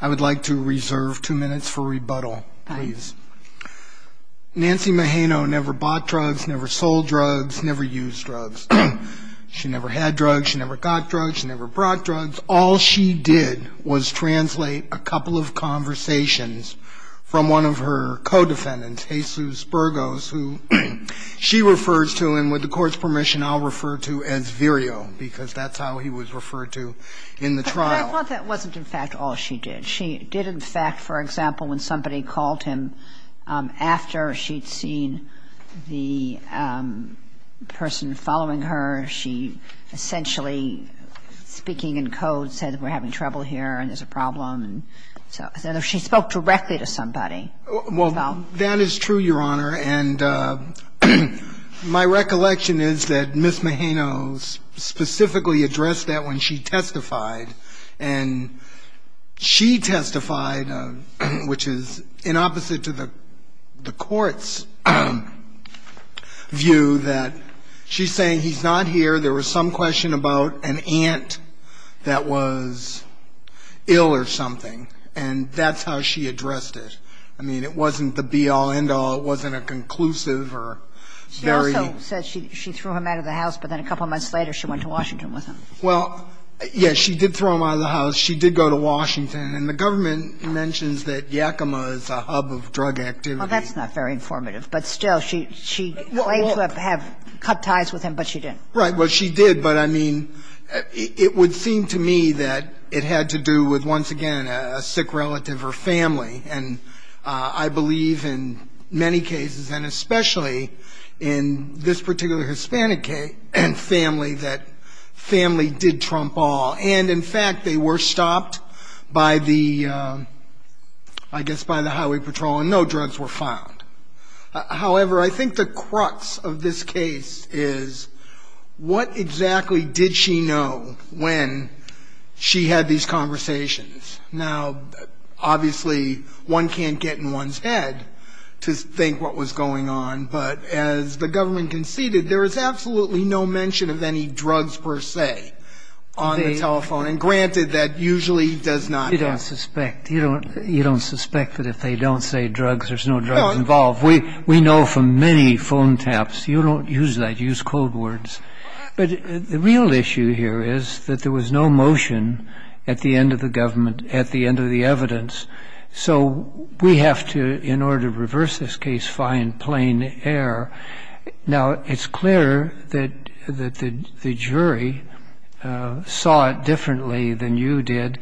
I would like to reserve two minutes for rebuttal. Nancy Mageno never bought drugs, never sold drugs, never used drugs. She never had drugs, she never got drugs, she never brought drugs. All she did was translate a couple of conversations from one of her co-defendants, Jesus Burgos, who she refers to, and with the Court's permission, I'll refer to as Virio, because that's how he was referred to in the trial. Kagan I thought that wasn't, in fact, all she did. She did, in fact, for example, when somebody called him after she'd seen the person following her, she essentially, speaking in code, said that we're having trouble here and there's a problem. And so she spoke directly to somebody about that. Carvin Well, that is true, Your Honor. And my recollection is that Ms. Mageno specifically addressed that when she testified. And she testified, which is in opposite to the Court's view, that she's saying he's not here, there was some question about an aunt that was ill or something, and that's how she addressed it. I mean, it wasn't the be-all, end-all, it wasn't a conclusive or very... Kagan She also said she threw him out of the house, but then a couple of months later she went to Washington with him. Carvin Well, yes, she did throw him out of the house. She did go to Washington. And the government mentions that Yakima is a hub of drug activity. Kagan Well, that's not very informative. But still, she claimed to have cut ties with him, but she didn't. Carvin Right. Well, she did, but, I mean, it would seem to me that it had to do with, once again, a sick relative or family. And I believe in many cases, and especially in this particular Hispanic family, that family did trump all. And, in fact, they were stopped by the, I guess, by the Highway Patrol, and no drugs were found. However, I think the crux of this case is, what exactly did she know when she had these conversations? Now, obviously, one can't get in one's head to think what was going on. But, as the government conceded, there is absolutely no mention of any drugs, per se, on the telephone. And, granted, that usually does not happen. Kagan You don't suspect. You don't suspect that if they don't say drugs, there's no drugs involved. We know from many phone taps, you don't use that, you use code words. But the real issue here is that there was no motion at the end of the government, at the end of the evidence. So we have to, in order to reverse this case, find plain error. Now, it's clear that the jury saw it differently than you did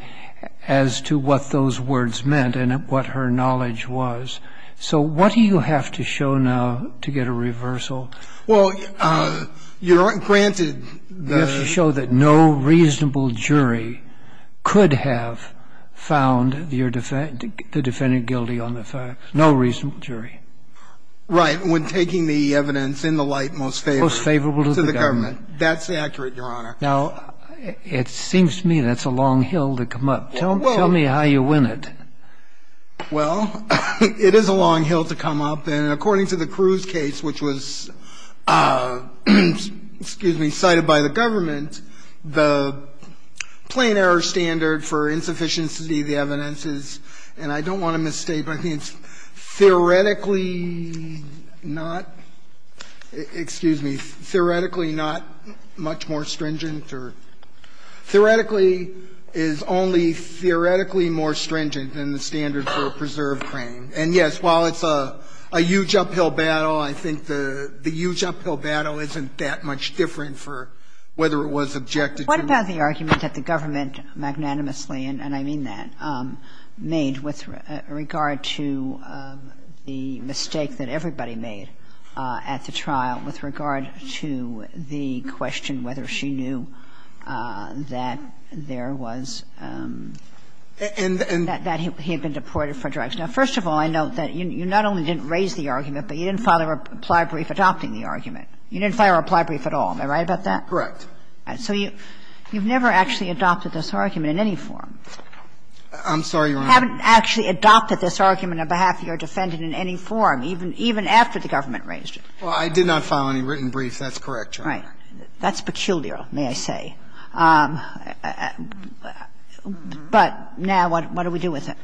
as to what those words meant and what her knowledge was. So what do you have to show now to get a reversal? Well, granted, you have to show that no reasonable jury could have found the defendant guilty on the facts, no reasonable jury. Right, when taking the evidence in the light most favorable to the government. That's accurate, Your Honor. Now, it seems to me that's a long hill to come up. Tell me how you win it. Well, it is a long hill to come up. And according to the Cruz case, which was, excuse me, cited by the government, the plain error standard for insufficiency of the evidence is, and I don't want to misstate, but I think it's theoretically not, excuse me, theoretically not much more stringent than the standard for a preserved frame. And, yes, while it's a huge uphill battle, I think the huge uphill battle isn't that much different for whether it was objected to. What about the argument that the government magnanimously, and I mean that, made with regard to the mistake that everybody made at the trial with regard to the question whether she knew that there was, that he had been deported for drugs. Now, first of all, I note that you not only didn't raise the argument, but you didn't file a reply brief adopting the argument. You didn't file a reply brief at all. Am I right about that? Correct. So you've never actually adopted this argument in any form. I'm sorry, Your Honor. You haven't actually adopted this argument on behalf of your defendant in any form, even after the government raised it. Well, I did not file any written brief. That's correct, Your Honor. All right. That's peculiar, may I say. But now what do we do with it?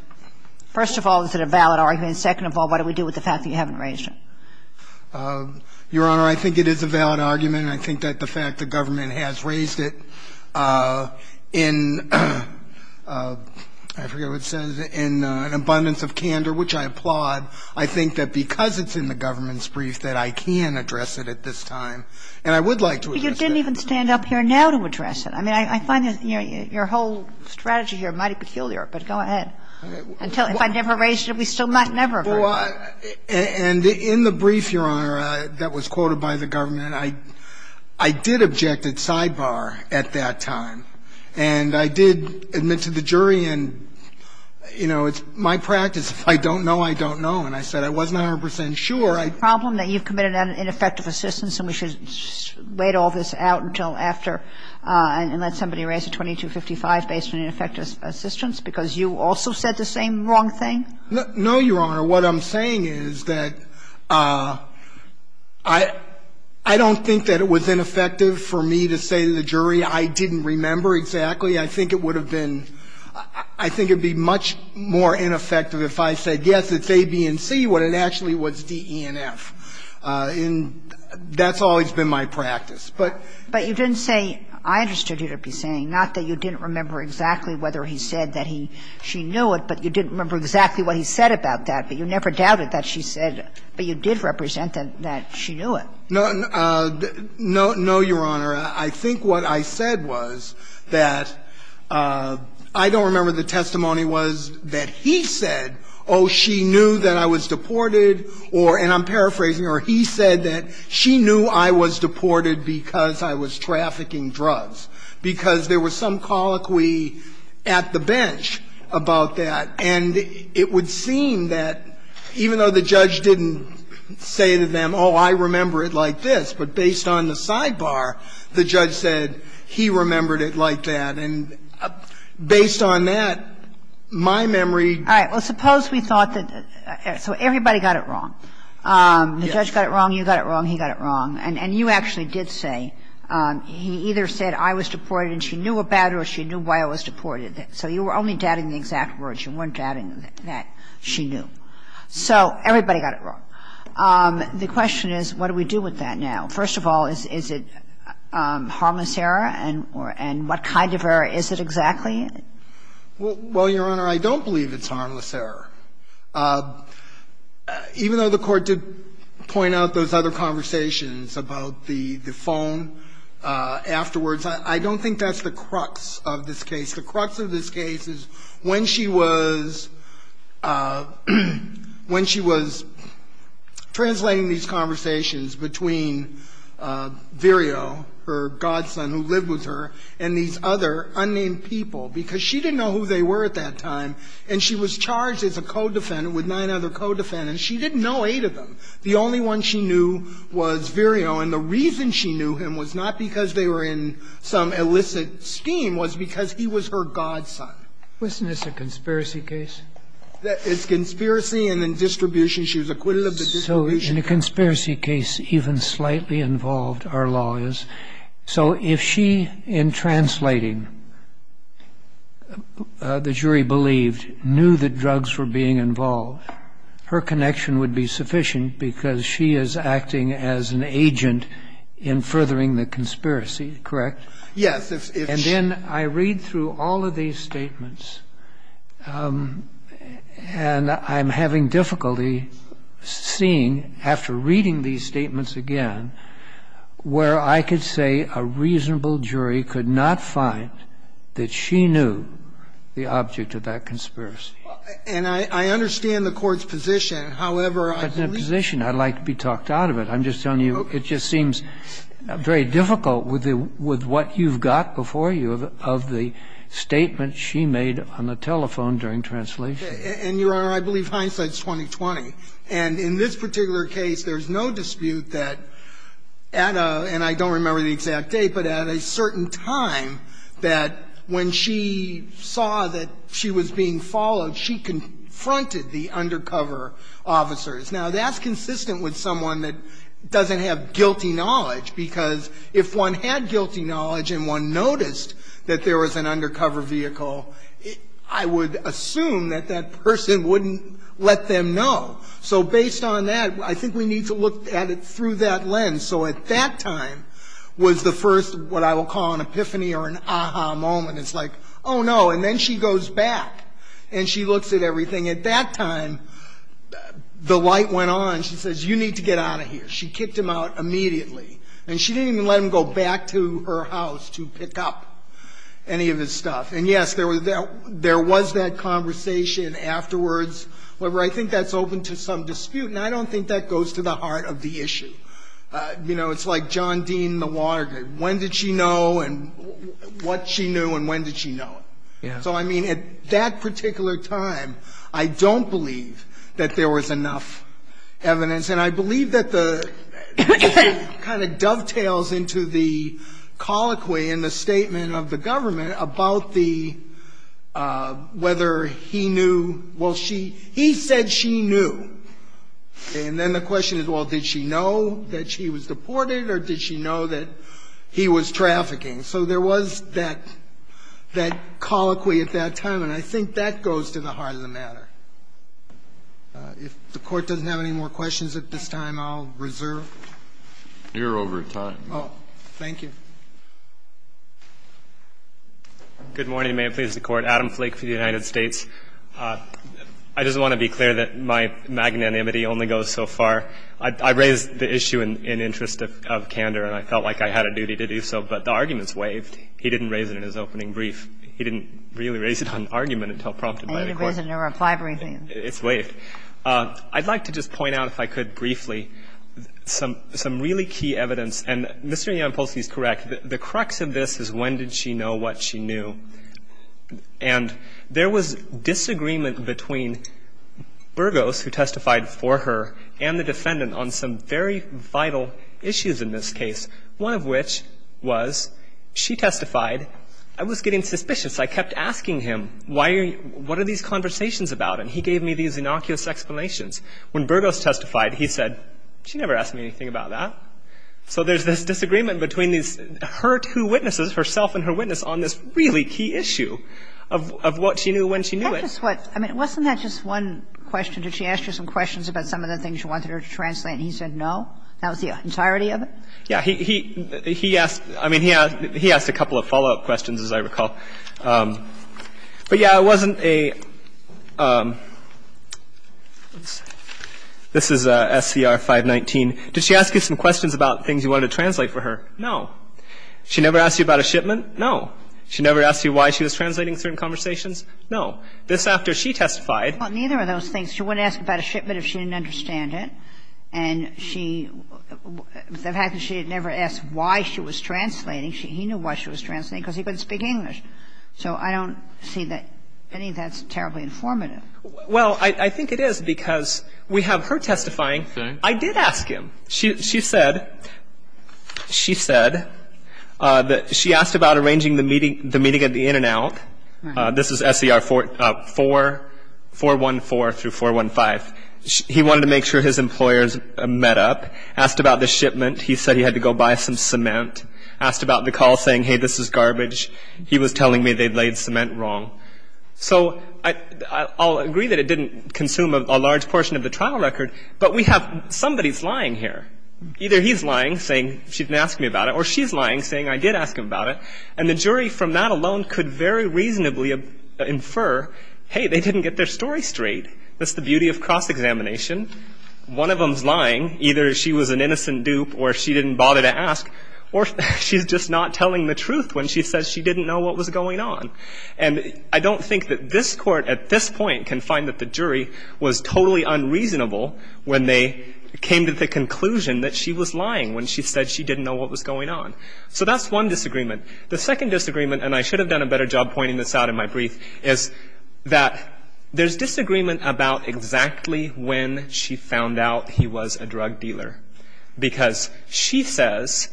First of all, is it a valid argument? And second of all, what do we do with the fact that you haven't raised it? Your Honor, I think it is a valid argument, and I think that the fact the government has raised it in, I forget what it says, in an abundance of candor, which I applaud, I think that because it's in the government's brief that I can address it at this time, and I would like to address it. But you didn't even stand up here now to address it. I mean, I find your whole strategy here mighty peculiar, but go ahead. If I never raised it, we still might never have heard it. Well, and in the brief, Your Honor, that was quoted by the government, I did object at sidebar at that time, and I did admit to the jury and, you know, it's my practice. If I don't know, I don't know. And I said I wasn't 100 percent sure. And I'm not saying that it's a problem that you've committed an ineffective assistance and we should wait all this out until after and let somebody raise a 2255 based on ineffective assistance, because you also said the same wrong thing? No, Your Honor. What I'm saying is that I don't think that it was ineffective for me to say to the jury I didn't remember exactly. I think it would have been – I think it would be much more ineffective if I said, I guess it's A, B, and C, when it actually was D, E, and F. And that's always been my practice. But you didn't say – I understood you to be saying not that you didn't remember exactly whether he said that he – she knew it, but you didn't remember exactly what he said about that, but you never doubted that she said – but you did represent that she knew it. No, Your Honor. I think what I said was that I don't remember the testimony was that he said, oh, she knew that I was deported, or – and I'm paraphrasing – or he said that she knew I was deported because I was trafficking drugs, because there was some colloquy at the bench about that. And it would seem that even though the judge didn't say to them, oh, I remember it like this, but based on the sidebar, the judge said he remembered it like that. And based on that, my memory – All right. Well, suppose we thought that – so everybody got it wrong. Yes. The judge got it wrong, you got it wrong, he got it wrong. And you actually did say he either said I was deported and she knew about it or she knew why I was deported. So you were only doubting the exact words. You weren't doubting that she knew. So everybody got it wrong. The question is, what do we do with that now? First of all, is it harmless error? And what kind of error is it exactly? Well, Your Honor, I don't believe it's harmless error. Even though the Court did point out those other conversations about the phone afterwards, I don't think that's the crux of this case. The crux of this case is when she was – when she was translating these conversations between Virio, her godson who lived with her, and these other unnamed people, because she didn't know who they were at that time. And she was charged as a co-defendant with nine other co-defendants. She didn't know eight of them. The only one she knew was Virio, and the reason she knew him was not because they were in some illicit scheme. It was because he was her godson. Wasn't this a conspiracy case? It's conspiracy and then distribution. She was acquitted of the distribution. So in a conspiracy case, even slightly involved are lawyers. So if she, in translating, the jury believed, knew that drugs were being involved, her connection would be sufficient because she is acting as an agent in furthering the conspiracy, correct? Yes. And then I read through all of these statements, and I'm having difficulty seeing, after reading these statements again, where I could say a reasonable jury could not find that she knew the object of that conspiracy. And I understand the Court's position. However, I believe – That's not a position. I'd like to be talked out of it. I'm just telling you, it just seems very difficult with the – with what you've got before you of the statement she made on the telephone during translation. And, Your Honor, I believe hindsight's 20-20. And in this particular case, there's no dispute that at a – and I don't remember the exact date, but at a certain time that when she saw that she was being followed, she confronted the undercover officers. Now, that's consistent with someone that doesn't have guilty knowledge, because if one had guilty knowledge and one noticed that there was an undercover vehicle, I would assume that that person wouldn't let them know. So based on that, I think we need to look at it through that lens. So at that time was the first what I will call an epiphany or an aha moment. It's like, oh, no, and then she goes back and she looks at everything. At that time, the light went on. She says, you need to get out of here. She kicked him out immediately. And she didn't even let him go back to her house to pick up any of his stuff. And, yes, there was that conversation afterwards. However, I think that's open to some dispute, and I don't think that goes to the heart of the issue. You know, it's like John Dean and the Watergate. When did she know and what she knew and when did she know it? So, I mean, at that particular time, I don't believe that there was enough evidence. And I believe that the kind of dovetails into the colloquy in the statement of the government about the whether he knew, well, she he said she knew. And then the question is, well, did she know that she was deported or did she know that he was trafficking? So there was that colloquy at that time, and I think that goes to the heart of the matter. If the Court doesn't have any more questions at this time, I'll reserve. You're over time. Thank you. Good morning. May it please the Court. Adam Flake for the United States. I just want to be clear that my magnanimity only goes so far. I raised the issue in interest of candor, and I felt like I had a duty to do so, but the argument's waived. He didn't raise it in his opening brief. He didn't really raise it on argument until prompted by the Court. I need to raise it in a reply briefing. It's waived. I'd like to just point out, if I could briefly, some really key evidence. And Mr. Yamapolsky is correct. The crux of this is when did she know what she knew. And there was disagreement between Burgos, who testified for her, and the defendant on some very vital issues in this case, one of which was she testified, I was getting suspicious. I kept asking him, what are these conversations about? And he gave me these innocuous explanations. When Burgos testified, he said, she never asked me anything about that. So there's this disagreement between her two witnesses, herself and her witness, on this really key issue of what she knew when she knew it. I mean, wasn't that just one question? Did she ask you some questions about some of the things you wanted her to translate and he said no? That was the entirety of it? Yeah. He asked, I mean, he asked a couple of follow-up questions, as I recall. But, yeah, it wasn't a, this is SCR 519. Did she ask you some questions about things you wanted to translate for her? No. She never asked you about a shipment? No. She never asked you why she was translating certain conversations? No. This after she testified. Well, neither of those things. She wouldn't ask about a shipment if she didn't understand it. And she, the fact that she had never asked why she was translating, he knew why she was translating, because he couldn't speak English. So I don't see that, any of that's terribly informative. Well, I think it is because we have her testifying. I did ask him. She said, she said that she asked about arranging the meeting, the meeting at the In-N-Out. Right. This is SCR 414 through 415. He wanted to make sure his employers met up. Asked about the shipment. He said he had to go buy some cement. Asked about the call, saying, hey, this is garbage. He was telling me they'd laid cement wrong. So I'll agree that it didn't consume a large portion of the trial record. But we have, somebody's lying here. Either he's lying, saying she didn't ask me about it. Or she's lying, saying I did ask him about it. And the jury, from that alone, could very reasonably infer, hey, they didn't get their story straight. That's the beauty of cross-examination. One of them's lying. Either she was an innocent dupe or she didn't bother to ask. Or she's just not telling the truth when she says she didn't know what was going on. And I don't think that this Court, at this point, can find that the jury was totally unreasonable when they came to the conclusion that she was lying when she said she didn't know what was going on. So that's one disagreement. The second disagreement, and I should have done a better job pointing this out in my brief, is that there's disagreement about exactly when she found out he was a drug dealer. Because she says,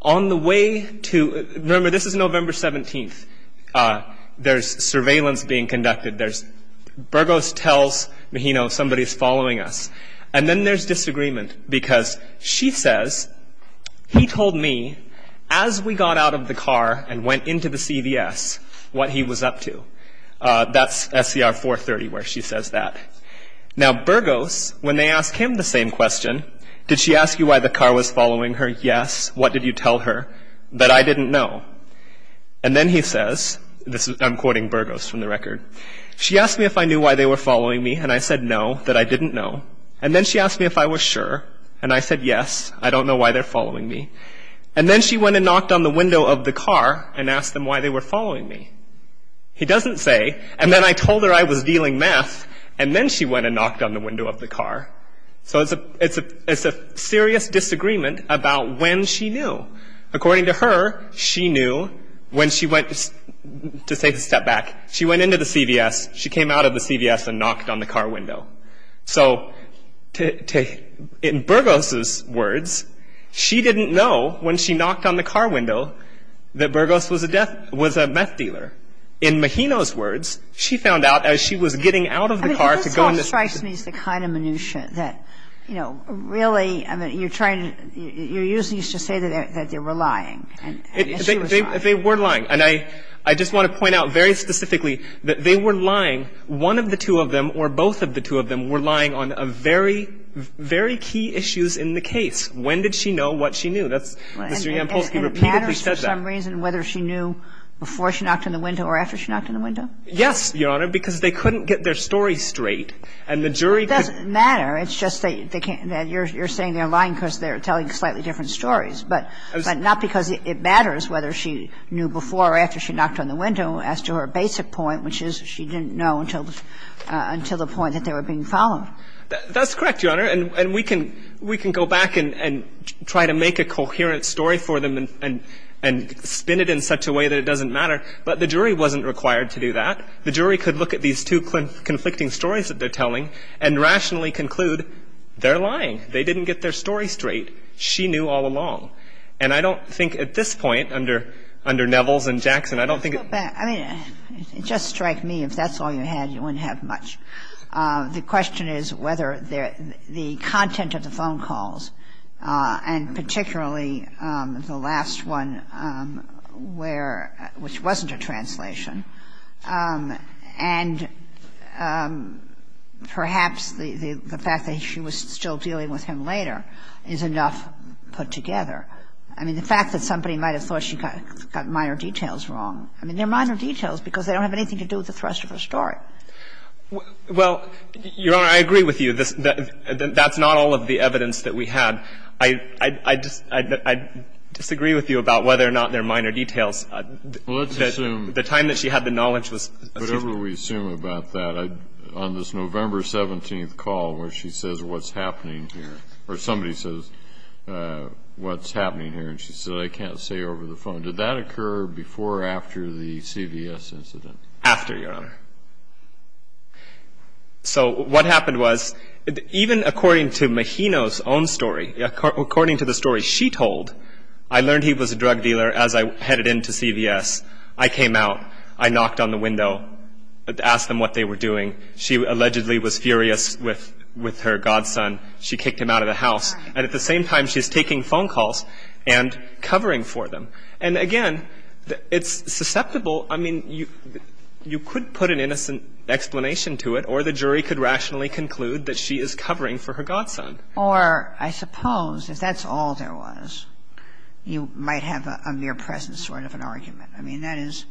on the way to, remember, this is November 17th. There's surveillance being conducted. There's, Burgos tells Mejino somebody's following us. And then there's disagreement, because she says, he told me, as we got out of the car and went into the CVS, what he was up to. That's SCR 430 where she says that. Now, Burgos, when they ask him the same question, did she ask you why the car was following her? Yes. What did you tell her? That I didn't know. And then he says, I'm quoting Burgos from the record, she asked me if I knew why they were following me, and I said no, that I didn't know. And then she asked me if I was sure, and I said yes, I don't know why they're following me. And then she went and knocked on the window of the car and asked them why they were following me. He doesn't say, and then I told her I was dealing meth, and then she went and knocked on the window of the car. So it's a serious disagreement about when she knew. According to her, she knew when she went, to take a step back, she went into the CVS, she came out of the CVS and knocked on the car window. So in Burgos's words, she didn't know when she knocked on the car window that Burgos was a meth dealer. In Mojino's words, she found out as she was getting out of the car to go into the car. I mean, this all strikes me as the kind of minutia that, you know, really, I mean, you're trying to – you're using this to say that they were lying. They were lying. And I just want to point out very specifically that they were lying. One of the two of them or both of the two of them were lying on a very, very key issues in the case. When did she know what she knew? That's – Mr. Yampolsky repeatedly said that. And it matters for some reason whether she knew before she knocked on the window or after she knocked on the window? Yes, Your Honor, because they couldn't get their story straight. And the jury could – It doesn't matter. It's just that they can't – that you're saying they're lying because they're telling slightly different stories. But not because it matters whether she knew before or after she knocked on the window as to her basic point, which is she didn't know until the point that they were being followed. That's correct, Your Honor. And we can go back and try to make a coherent story for them and spin it in such a way that it doesn't matter. But the jury wasn't required to do that. The jury could look at these two conflicting stories that they're telling and rationally conclude they're lying. They didn't get their story straight. She knew all along. And I don't think at this point, under Nevels and Jackson, I don't think – I mean, it just strikes me if that's all you had, you wouldn't have much. The question is whether the content of the phone calls, and particularly the last one where – which wasn't a translation. And perhaps the fact that she was still dealing with him later is enough put together. I mean, the fact that somebody might have thought she got minor details wrong, I mean, they're minor details because they don't have anything to do with the thrust of her story. Well, Your Honor, I agree with you. That's not all of the evidence that we had. I disagree with you about whether or not they're minor details. Well, let's assume – The time that she had the knowledge was – Whatever we assume about that, on this November 17th call where she says what's happening here, and she said, I can't say over the phone. Did that occur before or after the CVS incident? After, Your Honor. So what happened was, even according to Mahino's own story, according to the story she told, I learned he was a drug dealer as I headed into CVS. I came out. I knocked on the window, asked them what they were doing. She allegedly was furious with her godson. She kicked him out of the house. And at the same time, she's taking phone calls and covering for them. And, again, it's susceptible – I mean, you could put an innocent explanation to it, or the jury could rationally conclude that she is covering for her godson. Or, I suppose, if that's all there was, you might have a mere presence sort of an argument. I mean, that is,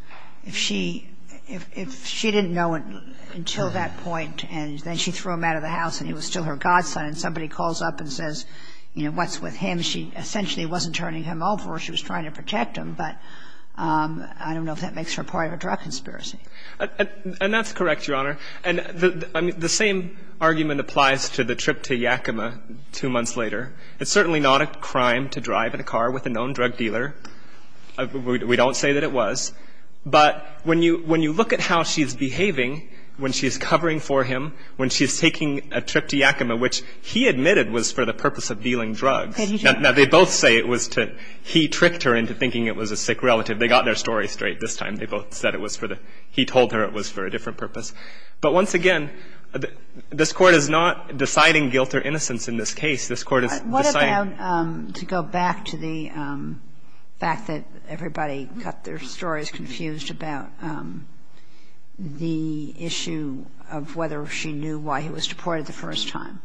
if she didn't know until that point, and then she threw him out of the house, and he was still her godson, and somebody calls up and says, you know, what's with him? She essentially wasn't turning him over. She was trying to protect him. But I don't know if that makes her part of a drug conspiracy. And that's correct, Your Honor. And the same argument applies to the trip to Yakima two months later. It's certainly not a crime to drive in a car with a known drug dealer. We don't say that it was. But when you look at how she's behaving when she's covering for him, when she's taking a trip to Yakima, which he admitted was for the purpose of dealing drugs. Now, they both say it was to – he tricked her into thinking it was a sick relative. They got their story straight this time. They both said it was for the – he told her it was for a different purpose. But once again, this Court is not deciding guilt or innocence in this case. This Court is deciding – What about – to go back to the fact that everybody got their stories confused about the issue of whether she knew why he was deported the first time.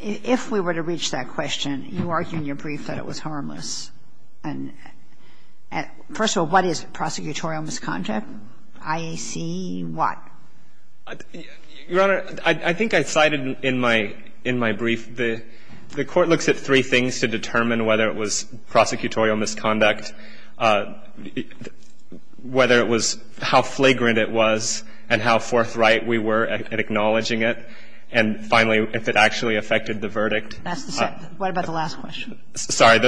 If we were to reach that question, you argue in your brief that it was harmless. And first of all, what is prosecutorial misconduct? IAC what? Your Honor, I think I cited in my – in my brief, the Court looks at three things to determine whether it was prosecutorial misconduct, whether it was how flagrant it was, and how forthright we were at acknowledging it. And finally, if it actually affected the verdict. That's the second. What about the last question? Sorry.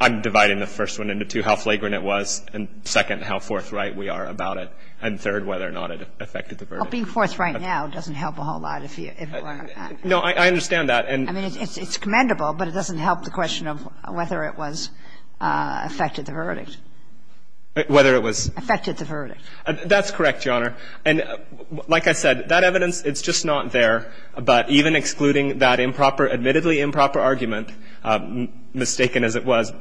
I'm dividing the first one into two, how flagrant it was, and second, how forthright we are about it. And third, whether or not it affected the verdict. Well, being forthright now doesn't help a whole lot if – No, I understand that. I mean, it's commendable, but it doesn't help the question of whether it was – affected the verdict. Whether it was – Affected the verdict. That's correct, Your Honor. And like I said, that evidence, it's just not there. But even excluding that improper – admittedly improper argument, mistaken as it was,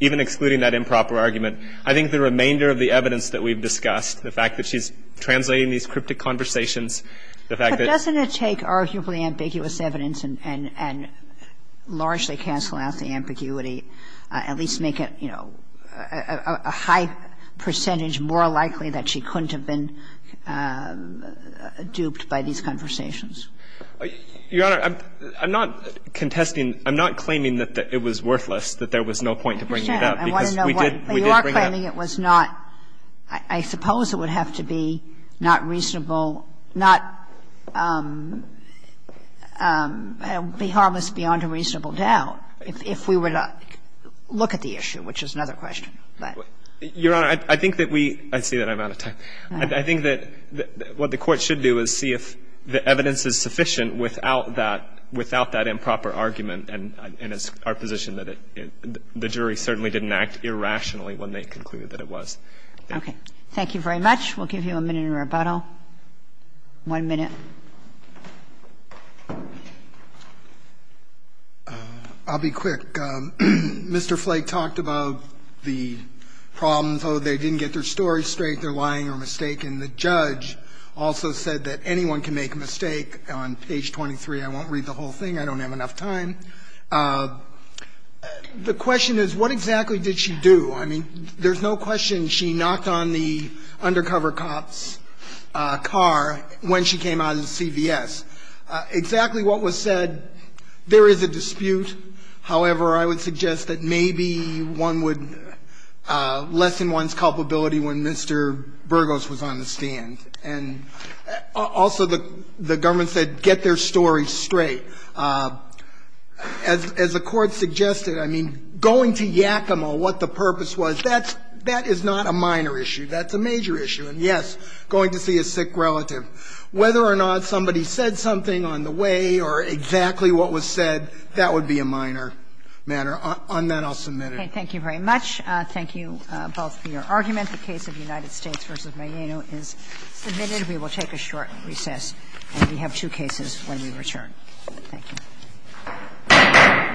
even excluding that improper argument, I think the remainder of the evidence that we've discussed, the fact that she's translating these cryptic conversations, the fact that – But doesn't it take arguably ambiguous evidence and largely cancel out the ambiguity, at least make it, you know, a high percentage more likely that she couldn't have been duped by these conversations? Your Honor, I'm not contesting – I'm not claiming that it was worthless, that there was no point to bringing it up, because we did – we did bring it up. I understand. I want to know what – you are claiming it was not – I suppose it would have to be not reasonable, not – be harmless beyond a reasonable doubt if we were to look at the issue, which is another question. Your Honor, I think that we – I see that I'm out of time. I think that what the Court should do is see if the evidence is sufficient without that – without that improper argument. And it's our position that it – the jury certainly didn't act irrationally when they concluded that it was. Thank you. Thank you very much. We'll give you a minute in rebuttal. One minute. I'll be quick. Mr. Flake talked about the problems. Oh, they didn't get their story straight, they're lying or mistaken. The judge also said that anyone can make a mistake. On page 23, I won't read the whole thing. I don't have enough time. The question is, what exactly did she do? I mean, there's no question she knocked on the undercover cop's car when she came out of the CVS. Exactly what was said, there is a dispute. However, I would suggest that maybe one would lessen one's culpability when Mr. Burgos was on the stand. And also the government said get their story straight. As the Court suggested, I mean, going to Yakima, what the purpose was, that is not a minor issue. That's a major issue. And, yes, going to see a sick relative. Whether or not somebody said something on the way or exactly what was said, that would be a minor matter. On that, I'll submit it. Okay. Thank you very much. Thank you both for your argument. The case of United States v. Mayeno is submitted. We will take a short recess. And we have two cases when we return. Thank you. Thank you.